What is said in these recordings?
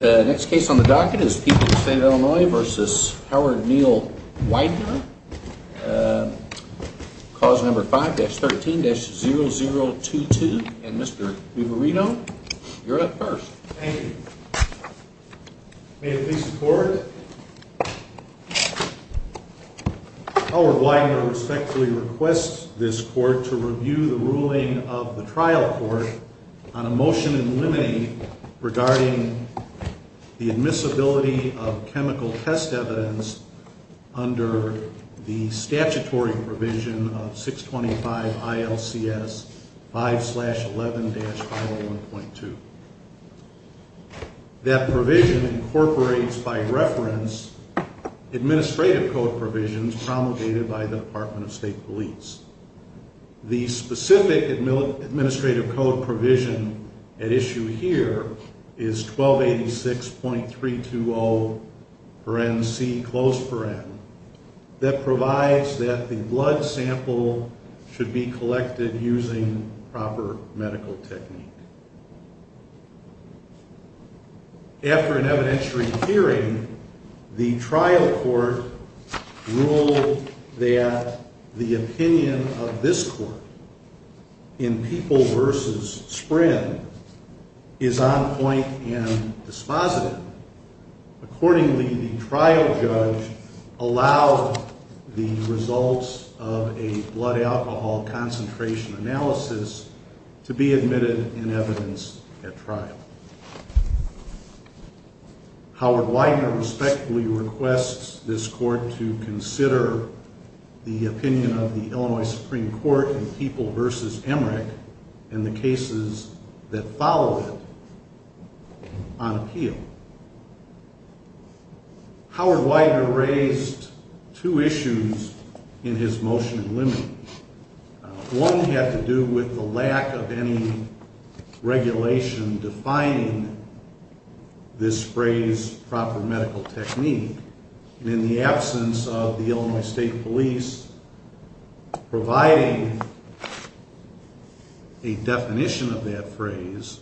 The next case on the docket is People of the State of Illinois v. Howard Neal Weidner. Cause number 5-13-0022. And Mr. Vivarino, you're up first. Thank you. May it please the Court, Howard Weidner respectfully requests this Court to review the ruling of the admissibility of chemical test evidence under the statutory provision of 625 ILCS 5-11-001.2. That provision incorporates by reference administrative code provisions promulgated by the Department of State Police. The specific administrative code provision at issue here is 1286.320 paren c close paren that provides that the blood sample should be collected using proper medical technique. After an evidentiary hearing, the trial court ruled that the opinion of this Court in People v. Sprin is on point and dispositive. Accordingly, the trial judge allowed the results of a blood alcohol concentration analysis to be admitted in evidence at trial. Howard Weidner respectfully requests this Court to consider the opinion of the Illinois Supreme Court in People v. Emmerich and the cases that follow it on appeal. Howard Weidner raised two issues in his motion limiting. One had to do with the lack of any regulation defining this phrase proper medical technique. In the absence of the Illinois State Police providing a definition of that phrase,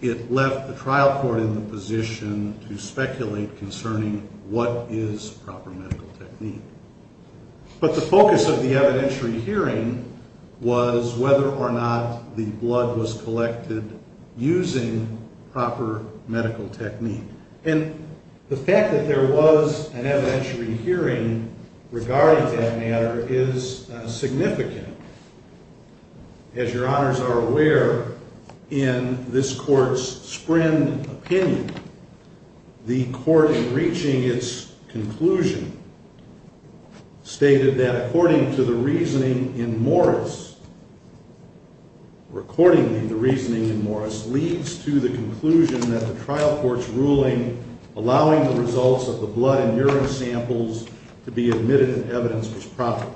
it left the trial court in the position to speculate concerning what is proper medical technique. But the focus of the evidentiary hearing was whether or not the blood was collected using proper medical technique. And the fact that there was an evidentiary hearing regarding that matter is significant. As your honors are aware, in this Court's Sprin opinion, the Court in reaching its conclusion stated that according to the reasoning in Morris, or accordingly the reasoning in Morris, leads to the conclusion that the trial court's ruling allowing the results of the blood and urine samples to be admitted in evidence was proper.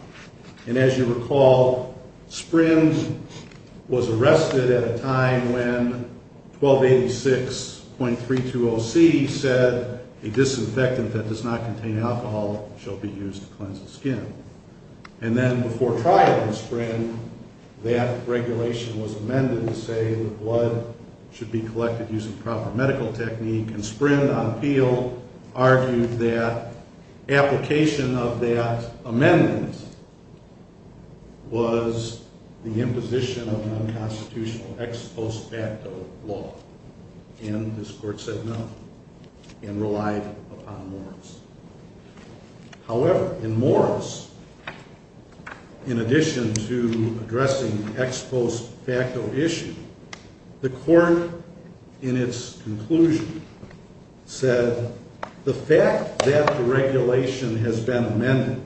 And as you recall, Sprin was arrested at a time when 1286.320C said a disinfectant that does not contain alcohol shall be used to cleanse the skin. And then before trial in Sprin, that regulation was amended to say the blood should be collected using proper medical technique. And Sprin on appeal argued that application of that amendment was the imposition of non-constitutional ex post facto law. And this Court said no and relied upon Morris. However, in Morris, in addition to addressing the ex post facto issue, the Court in its conclusion said the fact that the regulation has been amended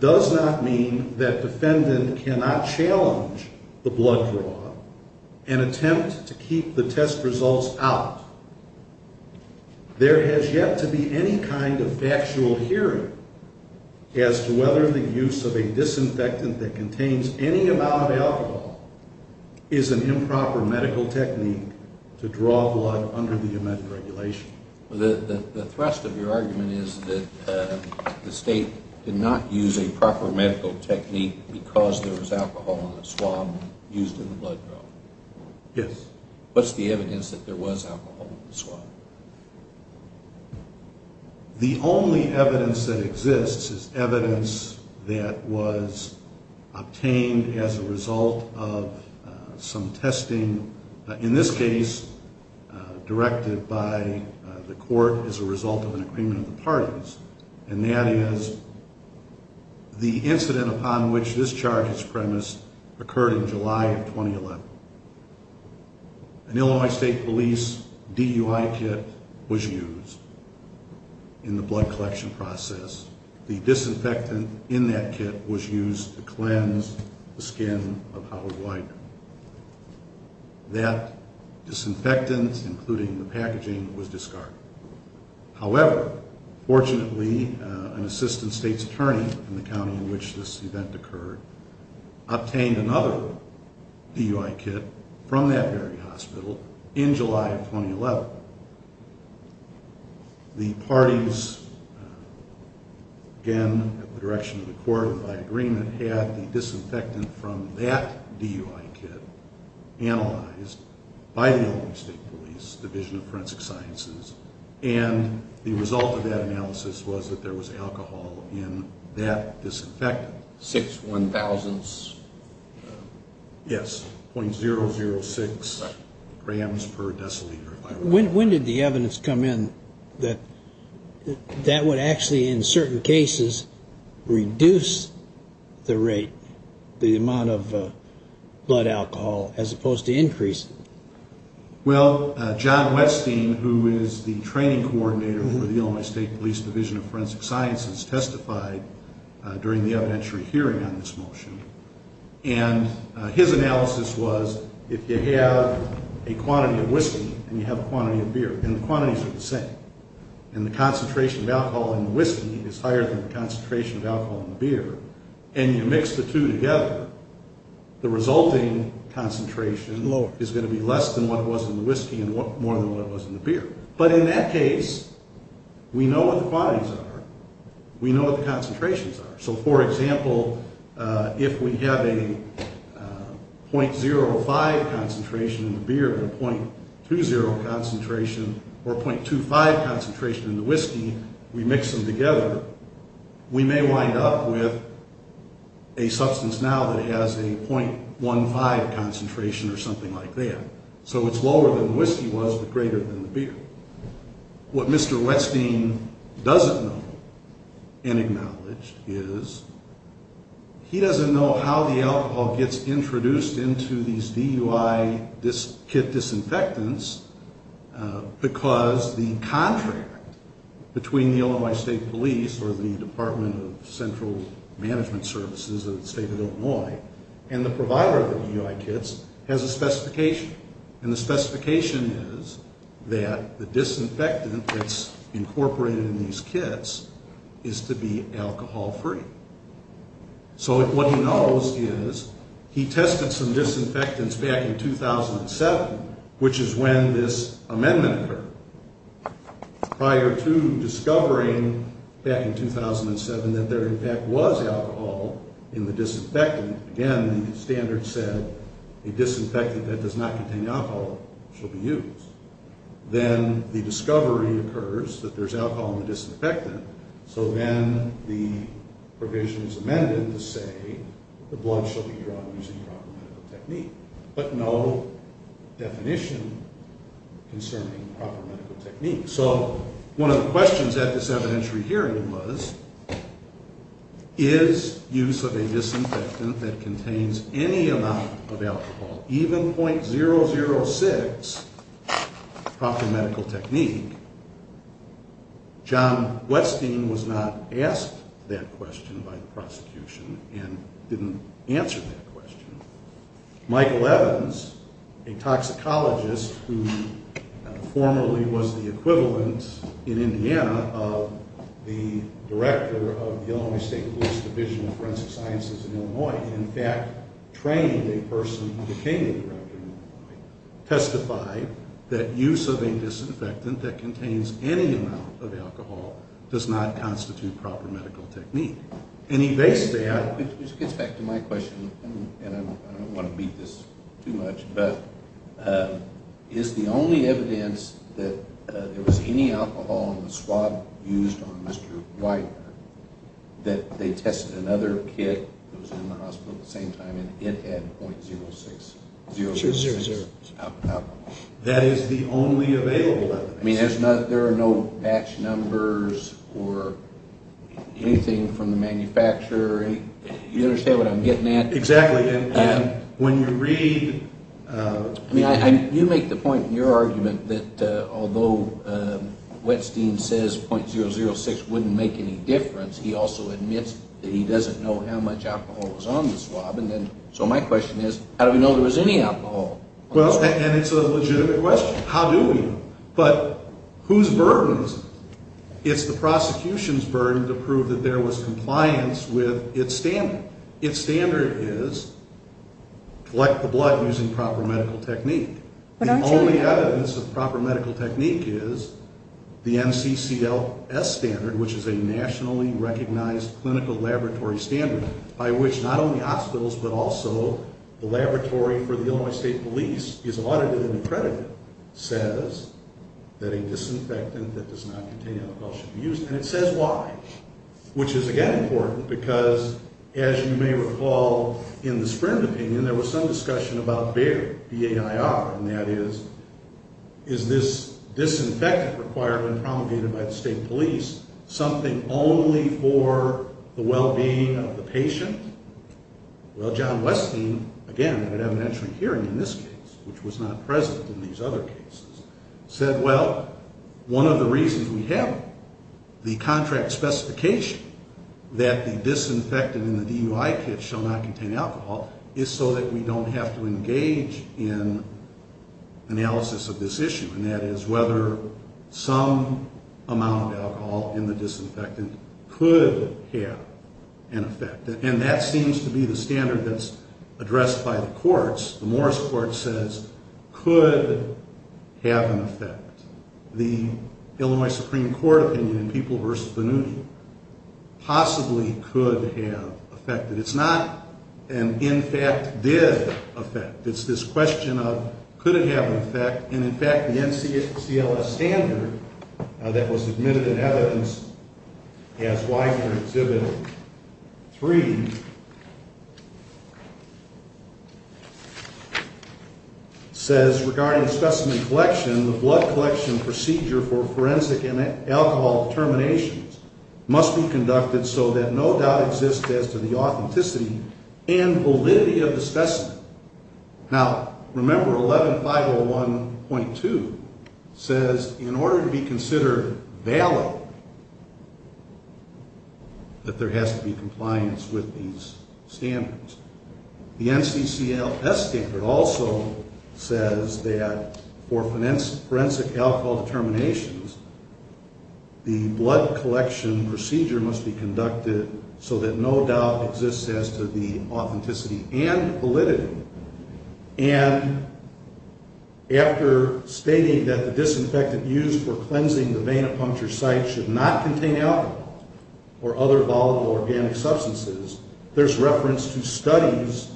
does not mean that defendant cannot challenge the blood draw and attempt to keep the test results out. There has yet to be any kind of factual hearing as to whether the use of a disinfectant that contains any amount of alcohol is an improper medical technique to draw blood under the amended regulation. The thrust of your argument is that the State did not use a proper medical technique because there was alcohol in the swab used in the blood draw. Yes. What's the evidence that there was alcohol in the swab? The only evidence that exists is evidence that was obtained as a result of some testing, in this case directed by the Court as a result of an agreement of the parties, and that is the incident upon which this charge is premised occurred in July of 2011. An Illinois State Police DUI kit was used in the blood collection process. The disinfectant in that kit was used to cleanse the skin of Howard White. That disinfectant, including the packaging, was discarded. However, fortunately, an assistant State's DUI kit from that very hospital in July of 2011. The parties, again, at the direction of the Court and by agreement, had the disinfectant from that DUI kit analyzed by the Illinois State Police Division of Forensic Sciences and the result of that analysis was that there was alcohol in that disinfectant. Six one thousandths? Yes, .006 grams per deciliter. When did the evidence come in that that would actually, in certain cases, reduce the rate, the amount of blood alcohol as opposed to increase it? Well, John Westing, who is the training coordinator for the Illinois State Police Division of Forensic Sciences, testified during the evidentiary hearing on this motion, and his analysis was if you have a quantity of whiskey and you have a quantity of beer, and the quantities are the same, and the concentration of alcohol in the whiskey is higher than the concentration of alcohol in the beer, and you mix the two together, the resulting concentration is going to be less than what it was in the whiskey and more than what it was in the beer. But in that case, we know what the quantities are, we know what the concentrations are. So, for example, if we have a .05 concentration in the beer and a .20 concentration or a .25 concentration in the whiskey, we mix them together, we may wind up with a substance now that has a .15 concentration or something like that. So it's lower than the whiskey was, but greater than the beer. What Mr. Westing doesn't know, and acknowledged, is he doesn't know how the alcohol gets introduced into these DUI kit disinfectants because the contract between the Illinois State Police or the Department of Central Management Services of the State of Illinois and the provider of the DUI kits has a specification, and the specification is that the disinfectant that's incorporated in these kits is to be alcohol-free. So what he knows is he tested some prior to discovering back in 2007 that there in fact was alcohol in the disinfectant. Again, the standard said a disinfectant that does not contain alcohol should be used. Then the discovery occurs that there's alcohol in the disinfectant, so then the provision is amended to say the blood should be drawn using proper medical technique. But no definition concerning proper medical technique. So one of the questions at this evidentiary hearing was is use of a disinfectant that contains any amount of alcohol, even .006 proper medical technique? John Westing was not asked that question by the prosecution and didn't answer that question. Michael Evans, a toxicologist who formerly was the equivalent in Indiana of the director of the Illinois State Police Division of Forensic Sciences in Illinois, in fact trained a person who became the director in Illinois, testified that use of a disinfectant that contains any amount of alcohol in the disinfectant should be used. And he based that... Which gets back to my question, and I don't want to beat this too much, but is the only evidence that there was any alcohol in the swab used on Mr. Westing? I don't know. I don't know. I don't know. I don't know. Whose burden is it? It's the prosecution's burden to prove that there was compliance with its standard. Its standard is collect the blood using proper medical technique. The only evidence of proper medical technique is the NCCLS standard, which is a nationally recognized clinical laboratory standard, by which not only is the use of a disinfectant that does not contain alcohol should be used. And it says why, which is again important, because as you may recall in the Sprint opinion, there was some discussion about BAIR, B-A-I-R, and that is, is this disinfectant required when promulgated by the state police something only for the well-being of the patient? Well, John Westing, again at an evidentiary hearing in this case, which was not present in these other cases, said, well, one of the reasons we have the contract specification that the disinfectant in the DUI kit shall not contain alcohol is so that we don't have to engage in analysis of this issue, and that is whether some amount of that seems to be the standard that's addressed by the courts. The Morris Court says could have an effect. The Illinois Supreme Court opinion in People v. Vannuti possibly could have effected. It's not an in fact did effect. It's this question of could it have an effect, and in fact the NCCLS standard that was presented, says regarding specimen collection, the blood collection procedure for forensic and alcohol determinations must be conducted so that no doubt exists as to the authenticity and validity of the specimen. Now, remember 11501.2 says in order to be considered valid that there has to be compliance with these standards. The NCCLS standard also says that for forensic alcohol determinations, the blood collection procedure must be conducted so that no doubt exists as to the authenticity and validity, and after stating that the disinfectant used for cleansing the venipuncture site should not contain alcohol or other volatile organic substances, there's reference to studies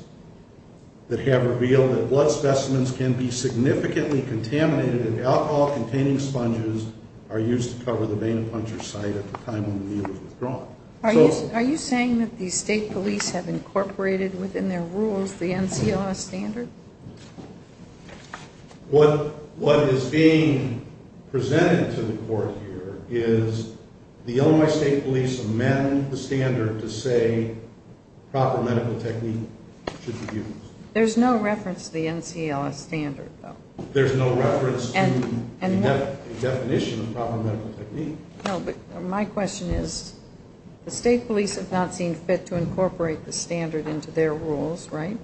that have revealed that blood specimens can be significantly contaminated if alcohol-containing sponges are used to cover the venipuncture site at the time when the needle is withdrawn. Are you saying that the state police have incorporated within their rules the NCCLS standard? What is being presented to the court here is the Illinois State Police amend the standard to say proper medical technique should be used. There's no reference to the NCCLS standard, though. There's no reference to a definition of proper medical technique. The state police have not seen fit to incorporate the standard into their rules, right?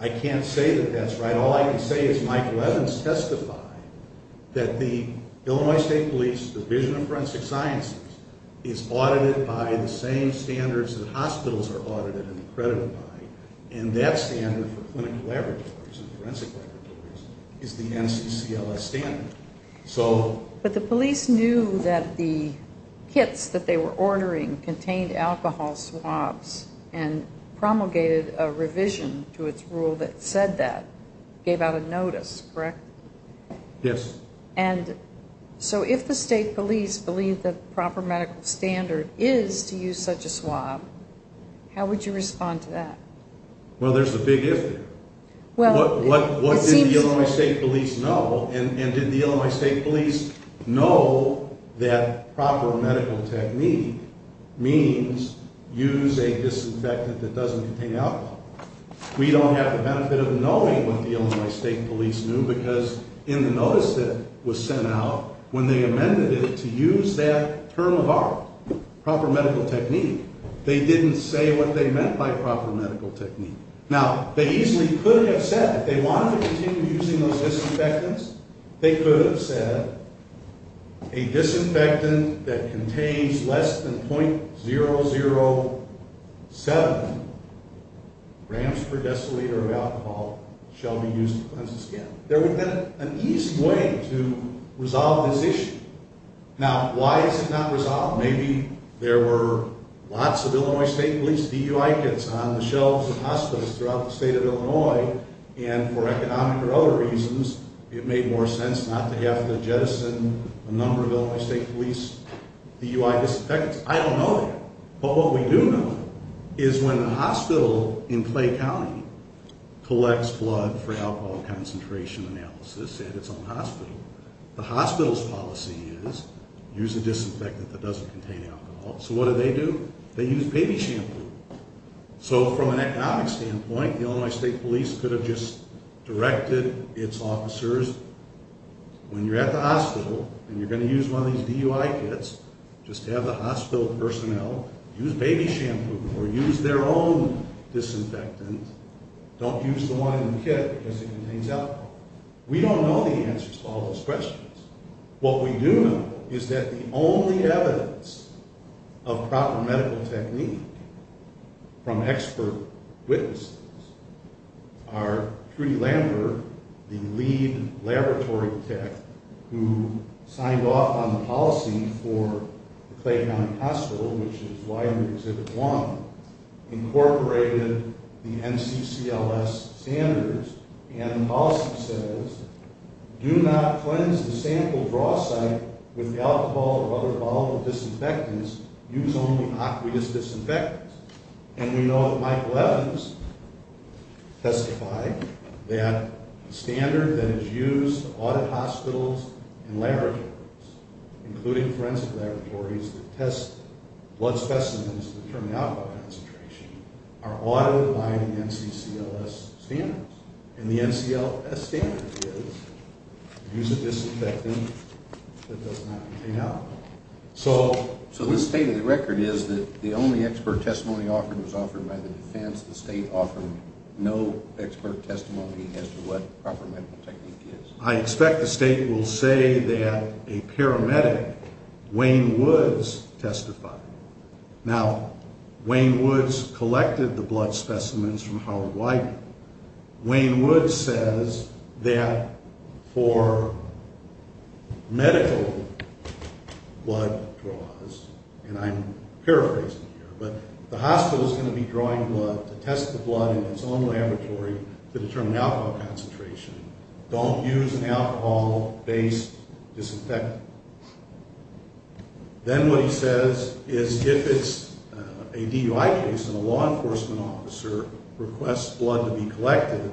I can't say that that's right. All I can say is Mike Levins testified that the Illinois State Police Division of Forensic Sciences is audited by the same standards that hospitals are audited and accredited by, and that standard for But the police knew that the kits that they were ordering contained alcohol swabs and promulgated a revision to its rule that said that, gave out a notice, correct? Yes. So if the state police believe that the proper medical standard is to use such a swab, how would you respond to that? Well, there's a big if there. What did the Illinois State Police know? And did the Illinois State Police know that proper medical technique means use a disinfectant that doesn't contain alcohol? We don't have the benefit of knowing what the Illinois State Police knew because in the notice that was sent out when they amended it to use that term of art, proper medical technique, they didn't say what they meant by proper medical technique. Now, they easily could have said, if they wanted to continue using those disinfectants, they could have said a disinfectant that contains less than .007 grams per deciliter of alcohol shall be used to cleanse the skin. There would have been an easy way to resolve this issue. Now, why is it not resolved? Maybe there were lots of Illinois State Police DUI kits on the shelves of hospitals throughout the state of Illinois and for economic or other reasons, it made more sense not to have to jettison a number of Illinois State Police DUI disinfectants. I don't know that. But what we do know is when a hospital in Clay County collects blood for alcohol concentration analysis at its own hospital, the hospital's policy is use a disinfectant that doesn't contain alcohol. So what do they do? They use baby shampoo. So from an economic standpoint, the Illinois State Police could have just directed its officers, when you're at the hospital and you're going to use one of these DUI kits, just have the hospital personnel use the one in the kit because it contains alcohol. We don't know the answers to all those questions. What we do know is that the only evidence of proper medical technique from expert witnesses are Trudy Lambert, the lead laboratory tech, who signed off on the policy for the Clay County Hospital, which is why we have Exhibit 1, incorporated the NCCLS standards and the policy says, do not cleanse the sample draw site with alcohol or other form of disinfectants. Use only aqueous disinfectants. And we know that Michael Evans testified that the standard that is used to audit hospitals and to determine alcohol concentration are audited by the NCCLS standards. And the NCCLS standard is, use a disinfectant that does not contain alcohol. So this state of the record is that the only expert testimony offered was offered by the defense. The state offered no expert testimony as to what proper medical technique is. I expect the state will say that a paramedic, Wayne Woods, testified. Now, Wayne Woods collected the blood specimens from Howard Widener. Wayne Woods says that for medical blood draws, and I'm paraphrasing here, but the hospital is going to be drawing blood to test the blood in its own laboratory to determine alcohol concentration. Don't use an alcohol-based disinfectant. Then what he says is if it's a DUI case and a law enforcement officer requests blood to be collected,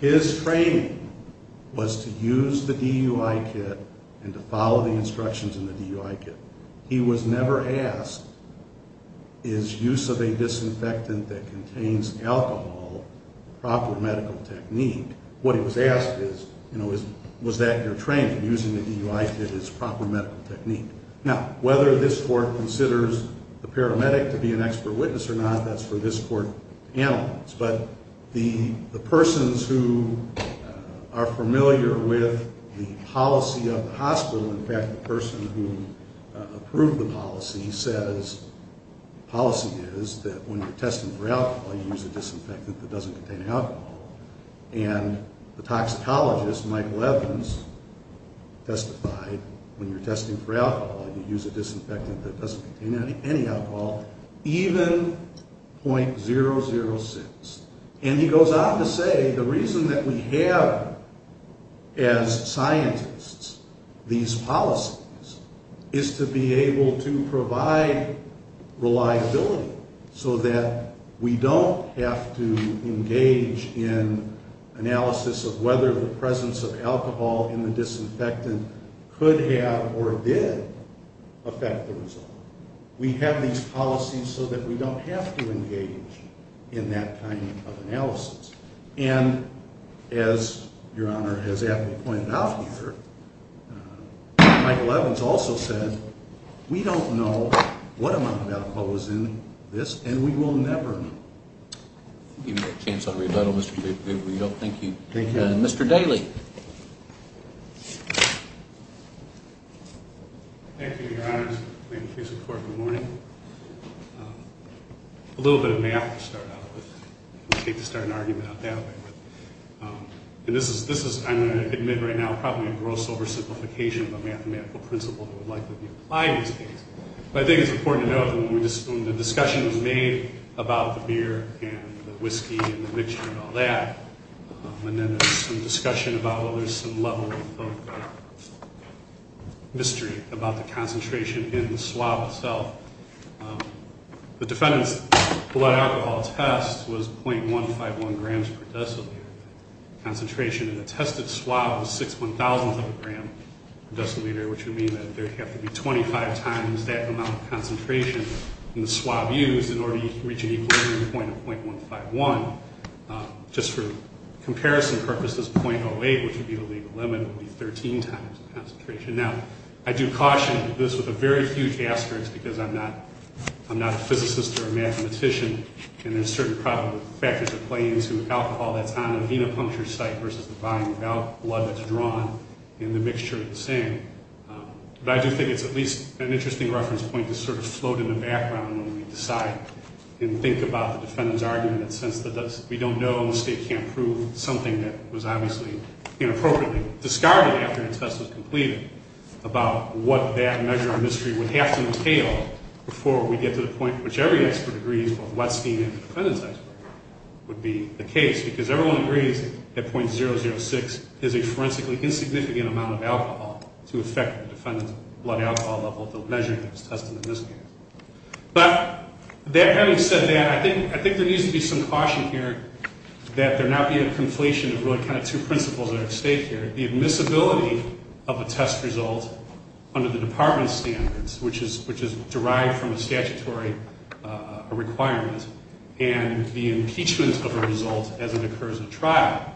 his training was to use the DUI kit and to follow the instructions in the DUI kit. He was never asked, is that your training, using the DUI kit as proper medical technique? Now, whether this court considers the paramedic to be an expert witness or not, that's for this court to analyze. But the persons who are familiar with the policy of the hospital, in fact, the person who approved the policy said, as policy is, that when you're testing for alcohol, you use a disinfectant that doesn't contain alcohol, and the toxicologist, Michael Evans, testified, when you're testing for alcohol, you use a disinfectant that doesn't contain any alcohol, even .006. And he goes on to say the reason that we have, as scientists, these policies is to be able to provide reliability so that we don't have to engage in analysis of whether the presence of alcohol in the disinfectant could have or did affect the result. We have these policies so that we don't have to engage in that kind of analysis. And as your Honor has aptly pointed out here, Michael Evans also said, we don't know what amount of alcohol was in this, and we will never know. I'll give you a chance to rebuttal. Thank you. Mr. Daly. Thank you, your Honor. Thank you for your support. Good morning. A little bit of math to start out with. I hate to start an argument out that way. And this is, I'm going to admit right now, probably a gross oversimplification of a mathematical principle that would likely be applied in this case. But I think it's important to note that when the discussion was made about the beer and the whiskey and the mixture and all that, and then there's some discussion about whether there's some level of mystery about the concentration in the swab itself, the defendant's blood alcohol test was .151 grams per deciliter. Concentration in the tested swab was .006 of a gram per deciliter, which would mean that there would have to be 25 times that amount of concentration in the swab used in order to reach an equilibrium point of .151. Just for comparison purposes, .08, which would be the legal limit, would be 13 times the concentration. Now, I do caution this with a very huge asterisk because I'm not a physicist or a mathematician and there's certain factors that play into alcohol that's on a venipuncture site versus the volume of blood that's drawn in the mixture of the same. But I do think it's at least an interesting reference point to sort of float in the background when we decide and we don't know and the state can't prove something that was obviously inappropriately discarded after the test was completed, about what that measure of mystery would have to entail before we get to the point which every expert agrees, both Westing and the defendant's expert, would be the case. Because everyone agrees that .006 is a forensically insignificant amount of alcohol to affect the defendant's blood alcohol level, the measure that was tested in this case. But having said that, I think there needs to be some caution here that there not be a conflation of really kind of two principles that are at stake here. The admissibility of a test result under the department's standards, which is derived from a statutory requirement, and the impeachment of a result as it occurs at trial.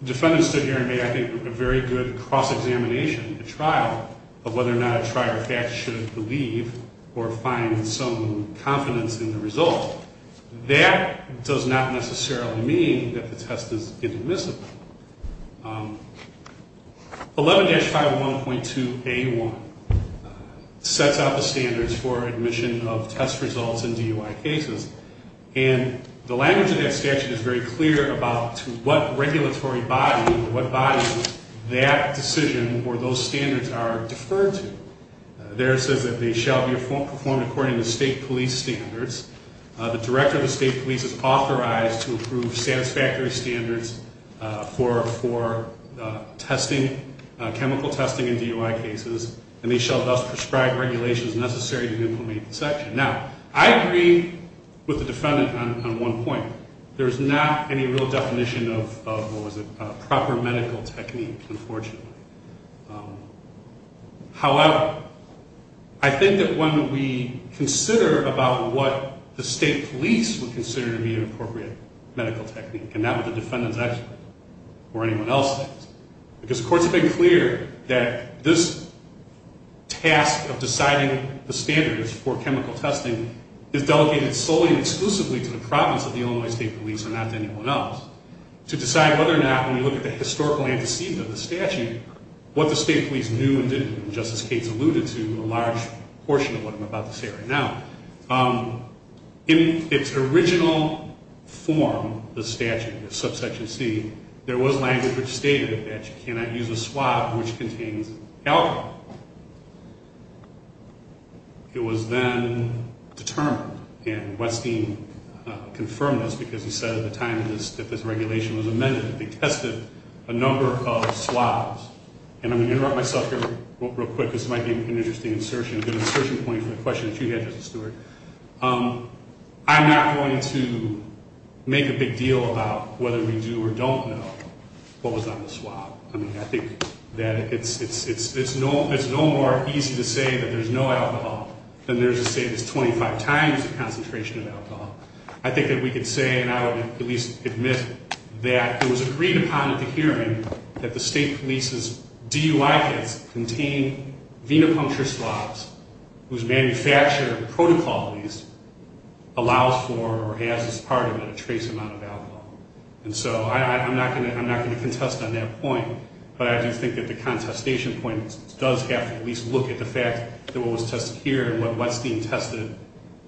The defendant stood here and made, I think, a very good cross-examination at trial of whether or not a trier of facts should believe or find some confidence in the result. That does not necessarily mean that the test is inadmissible. 11-501.2A1 sets out the standards for admission of test results in DUI cases. And the language of that statute is very clear about to what regulatory body or what bodies that decision or those standards are deferred to. There it says that they shall be performed according to state police standards. The director of the state police is authorized to approve satisfactory standards for testing, chemical testing in DUI cases, and they shall thus prescribe regulations necessary to implement the section. Now, I agree with the defendant on one point. There's not any real definition of what was a proper medical technique, unfortunately. However, I think that when we consider about what the state police would consider to be an appropriate medical technique, and not what the defendant's actually or anyone else thinks, because the court's been clear that this task of deciding the standards for chemical testing is delegated solely and exclusively to the province of the Illinois State Police and not to anyone else, to decide whether or not, when we look at the historical antecedent of the statute, what the state police knew and didn't know. And Justice Cates alluded to a large portion of what I'm about to say right now. In its original form, the statute, subsection C, there was language which stated that you cannot use a swab which contains alcohol. It was then determined, and Westing confirmed this because he said at the time that this regulation was amended that they tested a number of swabs. And I'm going to interrupt myself here real quick because this might be an interesting insertion, good insertion point for the question that you had, Justice Stewart. I'm not going to make a big deal about whether we do or don't know what was on the swab. I mean, I think that it's no more easy to say that there's no alcohol than there's to say there's 25 times the concentration of alcohol. I think that we could say, and I would at least admit, that it was agreed upon at the hearing that the state police's DUI kits contain venipuncture swabs whose manufacturer protocol allows for or has as part of it a trace amount of alcohol. And so I'm not going to contest on that point, but I do think that the contestation point does have to at least look at the fact that what was tested here and what Westing tested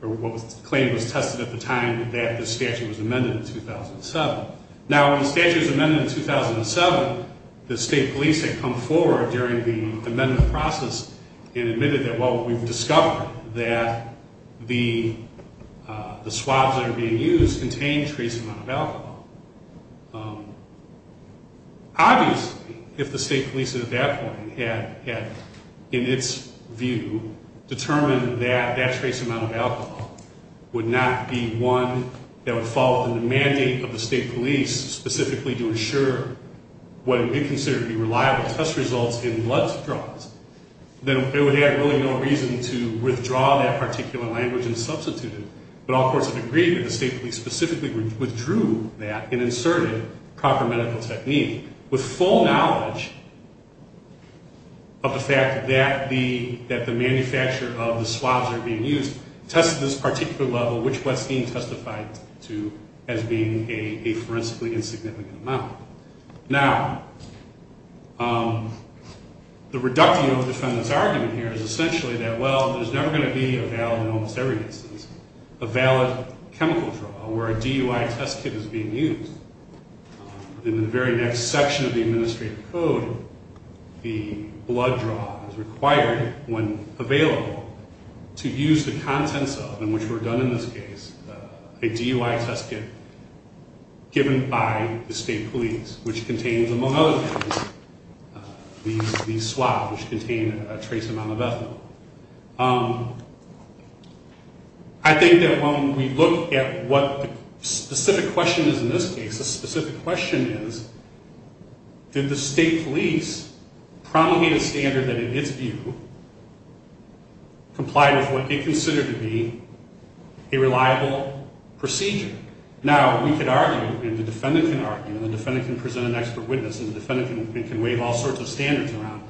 or what was claimed was tested at the time that the statute was amended in 2007. Now, when the statute was amended in 2007, the state police had come forward during the amendment process and admitted that, well, we've discovered that the swabs that are being used contain a trace amount of alcohol. Obviously, if the state police at that point had, in its view, determined that that trace amount of alcohol would not be one that would fall within the mandate of the state police specifically to ensure what would be considered to be reliable test results in blood draws, then it would have really no reason to withdraw that particular language and substitute it. But all courts have agreed that the state police specifically withdrew that and inserted proper medical technique with full knowledge of the fact that the manufacturer of the swabs that are being used tested this particular level, which Westing testified to as being a forensically insignificant amount. Now, the reductio defendant's argument here is essentially that, well, there's never going to be a valid, in almost every instance, a valid chemical draw where a DUI test kit is being used. In the very next section of the administrative code, the blood draw is required when available to use the contents of, and which were done in this case, a DUI test kit given by the state police, which contains, among other things, these swabs which contain a trace amount of ethanol. I think that when we look at what the specific question is in this case, the specific question is, did the state police promulgate a standard that, in its view, complied with what it considered to be a reliable procedure? Now, we could argue, and the defendant can argue, and the defendant can present an expert witness, and the defendant can wave all sorts of standards around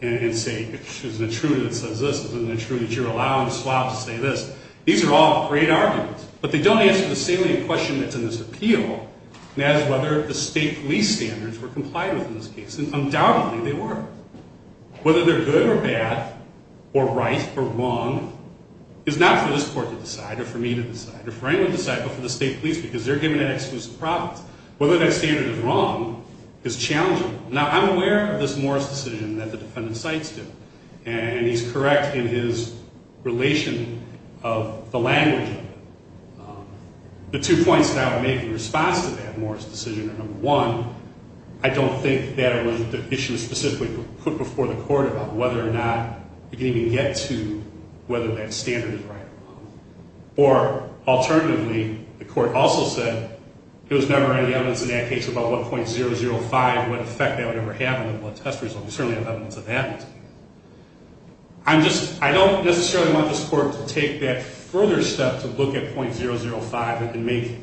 and say, there's an attribute that says this, there's an attribute that you're allowing the swab to say this. These are all great arguments, but they don't answer the salient question that's in this appeal, and that is whether the state police standards were complied with in this case, and undoubtedly they were. Whether they're good or bad, or right or wrong, is not for this court to decide, or for me to decide, or for anyone to decide, but for the state police, because they're given that exclusive profit. Whether that standard is wrong is challenging. Now, I'm aware of this Morris decision that the defendant cites here, and he's correct in his relation of the language of it. The two points that I would make in response to that Morris decision are, number one, I don't think that it was an issue specifically put before the court about whether or not it could even get to whether that standard is right or wrong, or alternatively, the court also said it was never any evidence in that case about what .005, what effect that would ever have on the blood test result. We certainly have evidence of that. I don't necessarily want this court to take that further step to look at .005 and make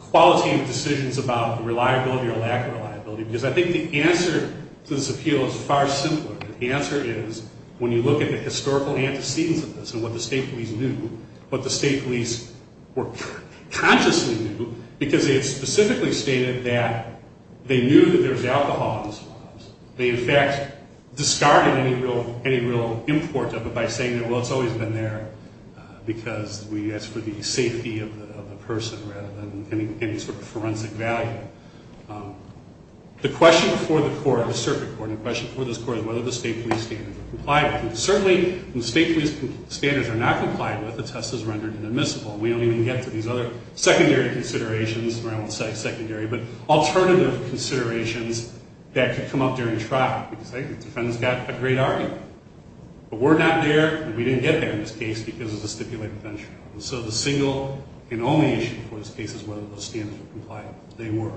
qualitative decisions about the reliability or lack of reliability, because I think the answer to this appeal is far simpler. The answer is, when you look at the historical antecedents of this and what the state police knew, what the state police consciously knew, because it specifically stated that they knew that there was alcohol in the swabs. They, in fact, discarded any real import of it by saying that, well, it's always been there because we asked for the safety of the person rather than any sort of forensic value. The question for the court, the circuit court, the question for this court is whether the state police standards are complied with. Certainly, when the state police standards are not complied with, the test is rendered inadmissible, and we don't even get to these other secondary considerations, or I won't say secondary, but alternative considerations that could come up during traffic. The defendant's got a great argument, but we're not there, and we didn't get there in this case because of the stipulated venture. So the single and only issue for this case is whether those standards are complied with. They were.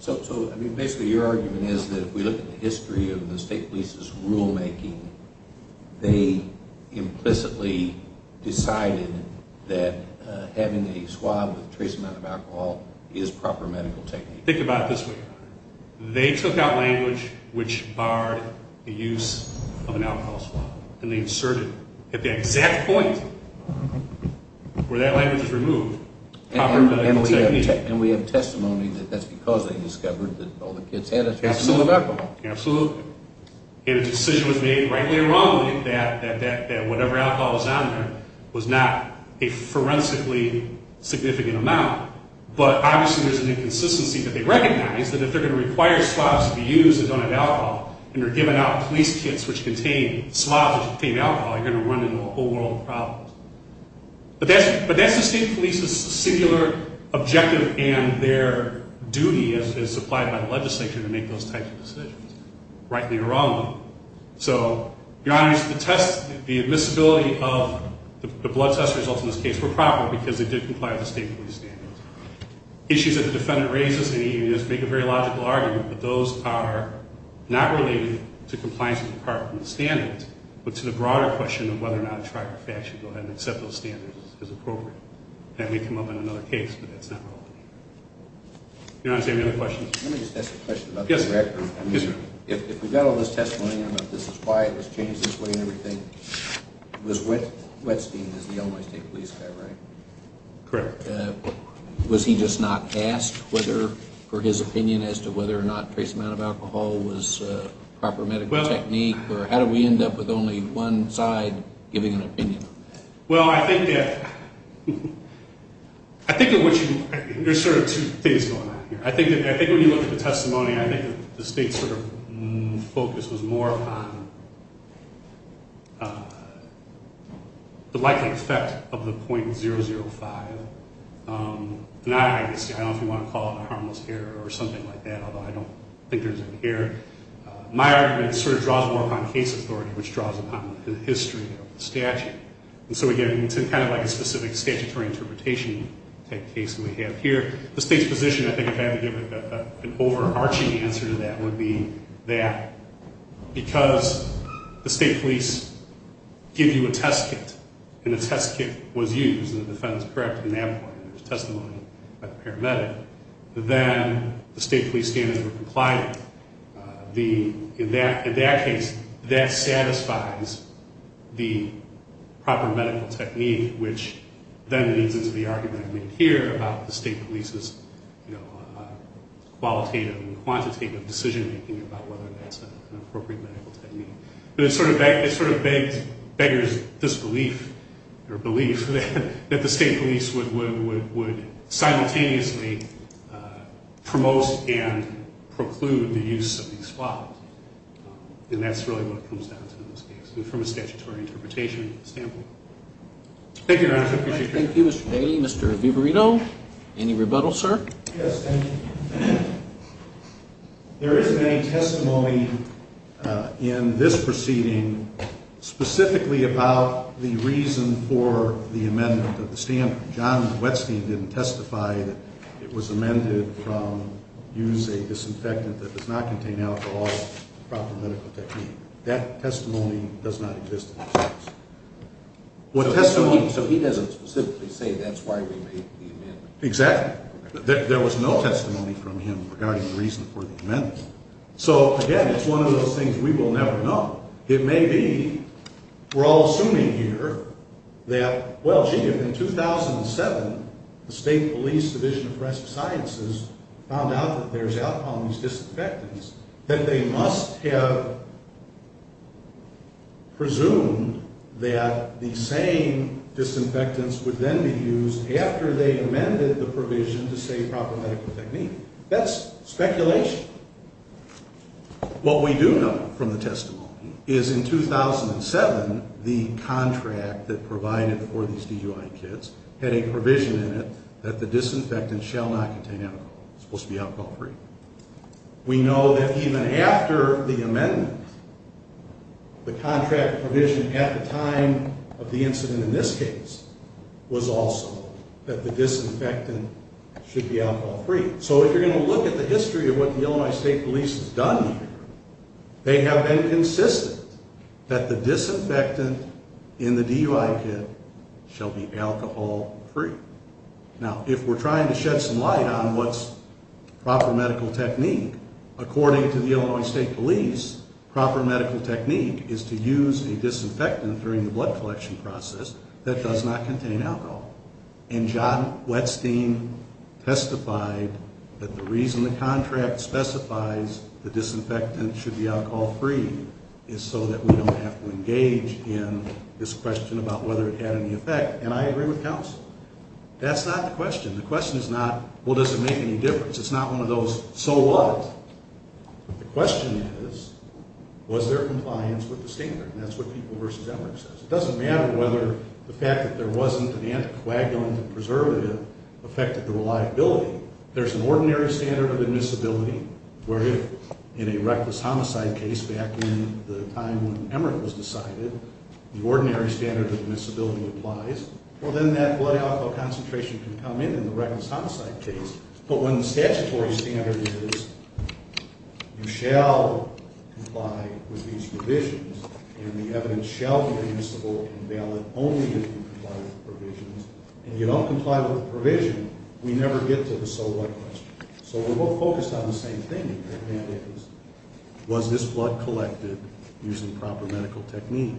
So, I mean, basically your argument is that if we look at the history of the state police's rulemaking, they implicitly decided that having a swab with a trace amount of alcohol is proper medical technique. Think about it this way. They took out a decision at the exact point where that language was removed. And we have testimony that that's because they discovered that all the kids had a trace amount of alcohol. Absolutely. And a decision was made, rightly or wrongly, that whatever alcohol was on there was not a forensically significant amount, but obviously there's an inconsistency that they recognize that if they're going to require swabs to be used on an alcohol and they're giving out police kits which contain swabs which contain alcohol, you're going to run into a whole world of problems. But that's the state police's singular objective and their duty as supplied by the legislature to make those types of decisions, rightly or wrongly. So, Your Honor, the test, the admissibility of the blood test results in this case were proper because they did comply with the state police standards. Issues that the defendant raises, and he does make a very logical argument, but those are not related to compliance with the department's standards, but to the broader question of whether or not a trifecta should go ahead and accept those standards as appropriate. That may come up in another case, but that's not relevant. Your Honor, is there any other questions? Let me just ask a question about the record. Yes, sir. If we got all this testimony about this is why it was changed this way and everything, it was Whetstein, the Illinois State Police guy, right? Correct. Was he just not asked whether, for his opinion as to whether or not trace amount of alcohol was a proper medical technique or how did we end up with only one side giving an opinion? Well, I think that there's sort of two things going on here. I think when you look at the testimony, I think the state's sort of focus was more upon the likely effect of the .005. Now, obviously, I don't know if you want to call it a harmless error or something like that, although I don't think there's an error. My argument sort of draws more upon case authority, which draws upon the history of the statute. And so again, it's kind of like a specific statutory interpretation type case that we have here. The state's position, I think, if I had to give an overarching answer to that would be that because the state police give you a test kit and the test kit was used and the defendant's correct at that point in the testimony by the paramedic, then the state police stand as a compliant. In that case, that satisfies the proper medical technique, which then leads into the argument I made here about the state police's qualitative and quantitative decision-making about whether that's an appropriate medical technique. But it sort of begs beggar's disbelief or belief that the state police would simultaneously promote and preclude the use of these floggings. And that's really what it comes down to in this case, from a statutory interpretation standpoint. Thank you, Your Honor. I appreciate your time. Thank you, Mr. Daly. Mr. Viverito, any rebuttal, sir? Yes, thank you. There isn't any testimony in this proceeding specifically about the reason for the amendment of the statute. John Wetstein didn't testify that it was amended from use a disinfectant that does not contain alcohol as a proper medical technique. That testimony does not exist in this case. So he doesn't specifically say that's why we made the amendment? Exactly. There was no testimony from him regarding the reason for the amendment. So, again, it's one of those things we will never know. It may be we're all assuming here that, well, gee, if in 2007 the State Police Division of Forensic Sciences found out that there's alcohol in these disinfectants, that they must have presumed that the same disinfectants would then be used after they amended the provision to say proper medical technique. That's speculation. What we do know from the testimony is in 2007 the contract that provided for these DUI kids had a provision in it that the disinfectant shall not contain alcohol. It was supposed to be alcohol free. We know that even after the amendment, the contract provision at the time of the incident in this case was also that the disinfectant should be alcohol free. So if you're going to look at the history of what the Illinois State Police has done here, they have been consistent that the disinfectant in the DUI kit shall be alcohol free. Now, if we're trying to shed some light on what's proper medical technique, according to the Illinois State Police, proper medical technique is to use a disinfectant during the blood collection process that does not contain alcohol. And John Wettstein testified that the reason the contract specifies the disinfectant should be alcohol free is so that we don't have to engage in this question about whether it had any effect. And I agree with counsel. That's not the question. The question is not, well, does it make any difference? It's not one of those, so what? The question is, was there compliance with the standard? And that's what People v. Emmerich says. It doesn't matter whether the fact that there wasn't an anticoagulant or preservative affected the reliability. There's an ordinary standard of admissibility where if in a reckless homicide case back in the time when Emmerich was decided, the ordinary standard of admissibility applies. Well, then that blood alcohol concentration can come in in the reckless homicide case. But when the statutory standard is, you shall comply with these provisions, and the evidence shall be admissible and valid only if you comply with the provisions. And if you don't comply with the provision, we never get to the so what question. So we're both focused on the same thing, and that is, was this blood collected using proper medical technique?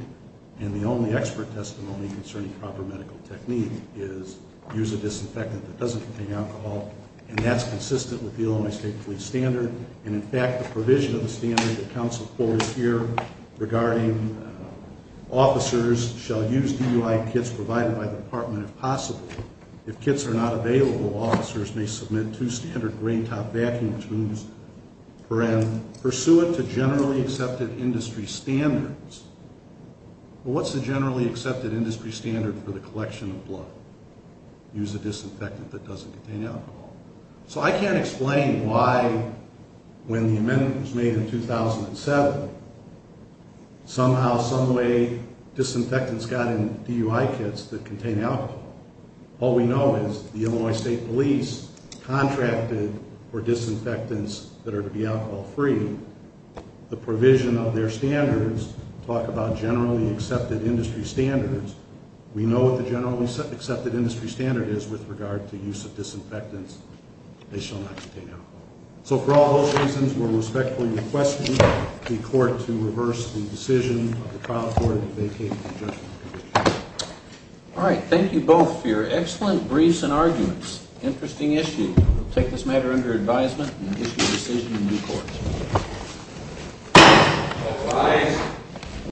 And the only expert testimony concerning proper medical technique is use a disinfectant that doesn't contain alcohol, and that's consistent with the Illinois State Police standard. And in fact, the provision of the standard that counsel pulled this year regarding officers shall use DUI kits provided by the department if possible. If kits are not available, officers may submit two standard rain top vacuum tubes for an pursuant to generally accepted industry standards. Well, what's the generally accepted industry standard for the collection of blood? Use a disinfectant that doesn't contain alcohol. So I can't explain why when the amendment was made in 2007, somehow, someway, disinfectants got in DUI kits that contain alcohol. All we know is the Illinois State Police contracted for disinfectants that are to be alcohol free. The provision of their standards talk about generally accepted industry standards. We know what the generally accepted industry standard is with regard to use of disinfectants. They shall not contain alcohol. So for all those reasons, we're respectfully requesting the court to reverse the decision of the trial court in vacating the adjustment condition. All right. Thank you both for your excellent briefs and arguments. Interesting issue. We'll take this matter under advisement and issue a decision in due course.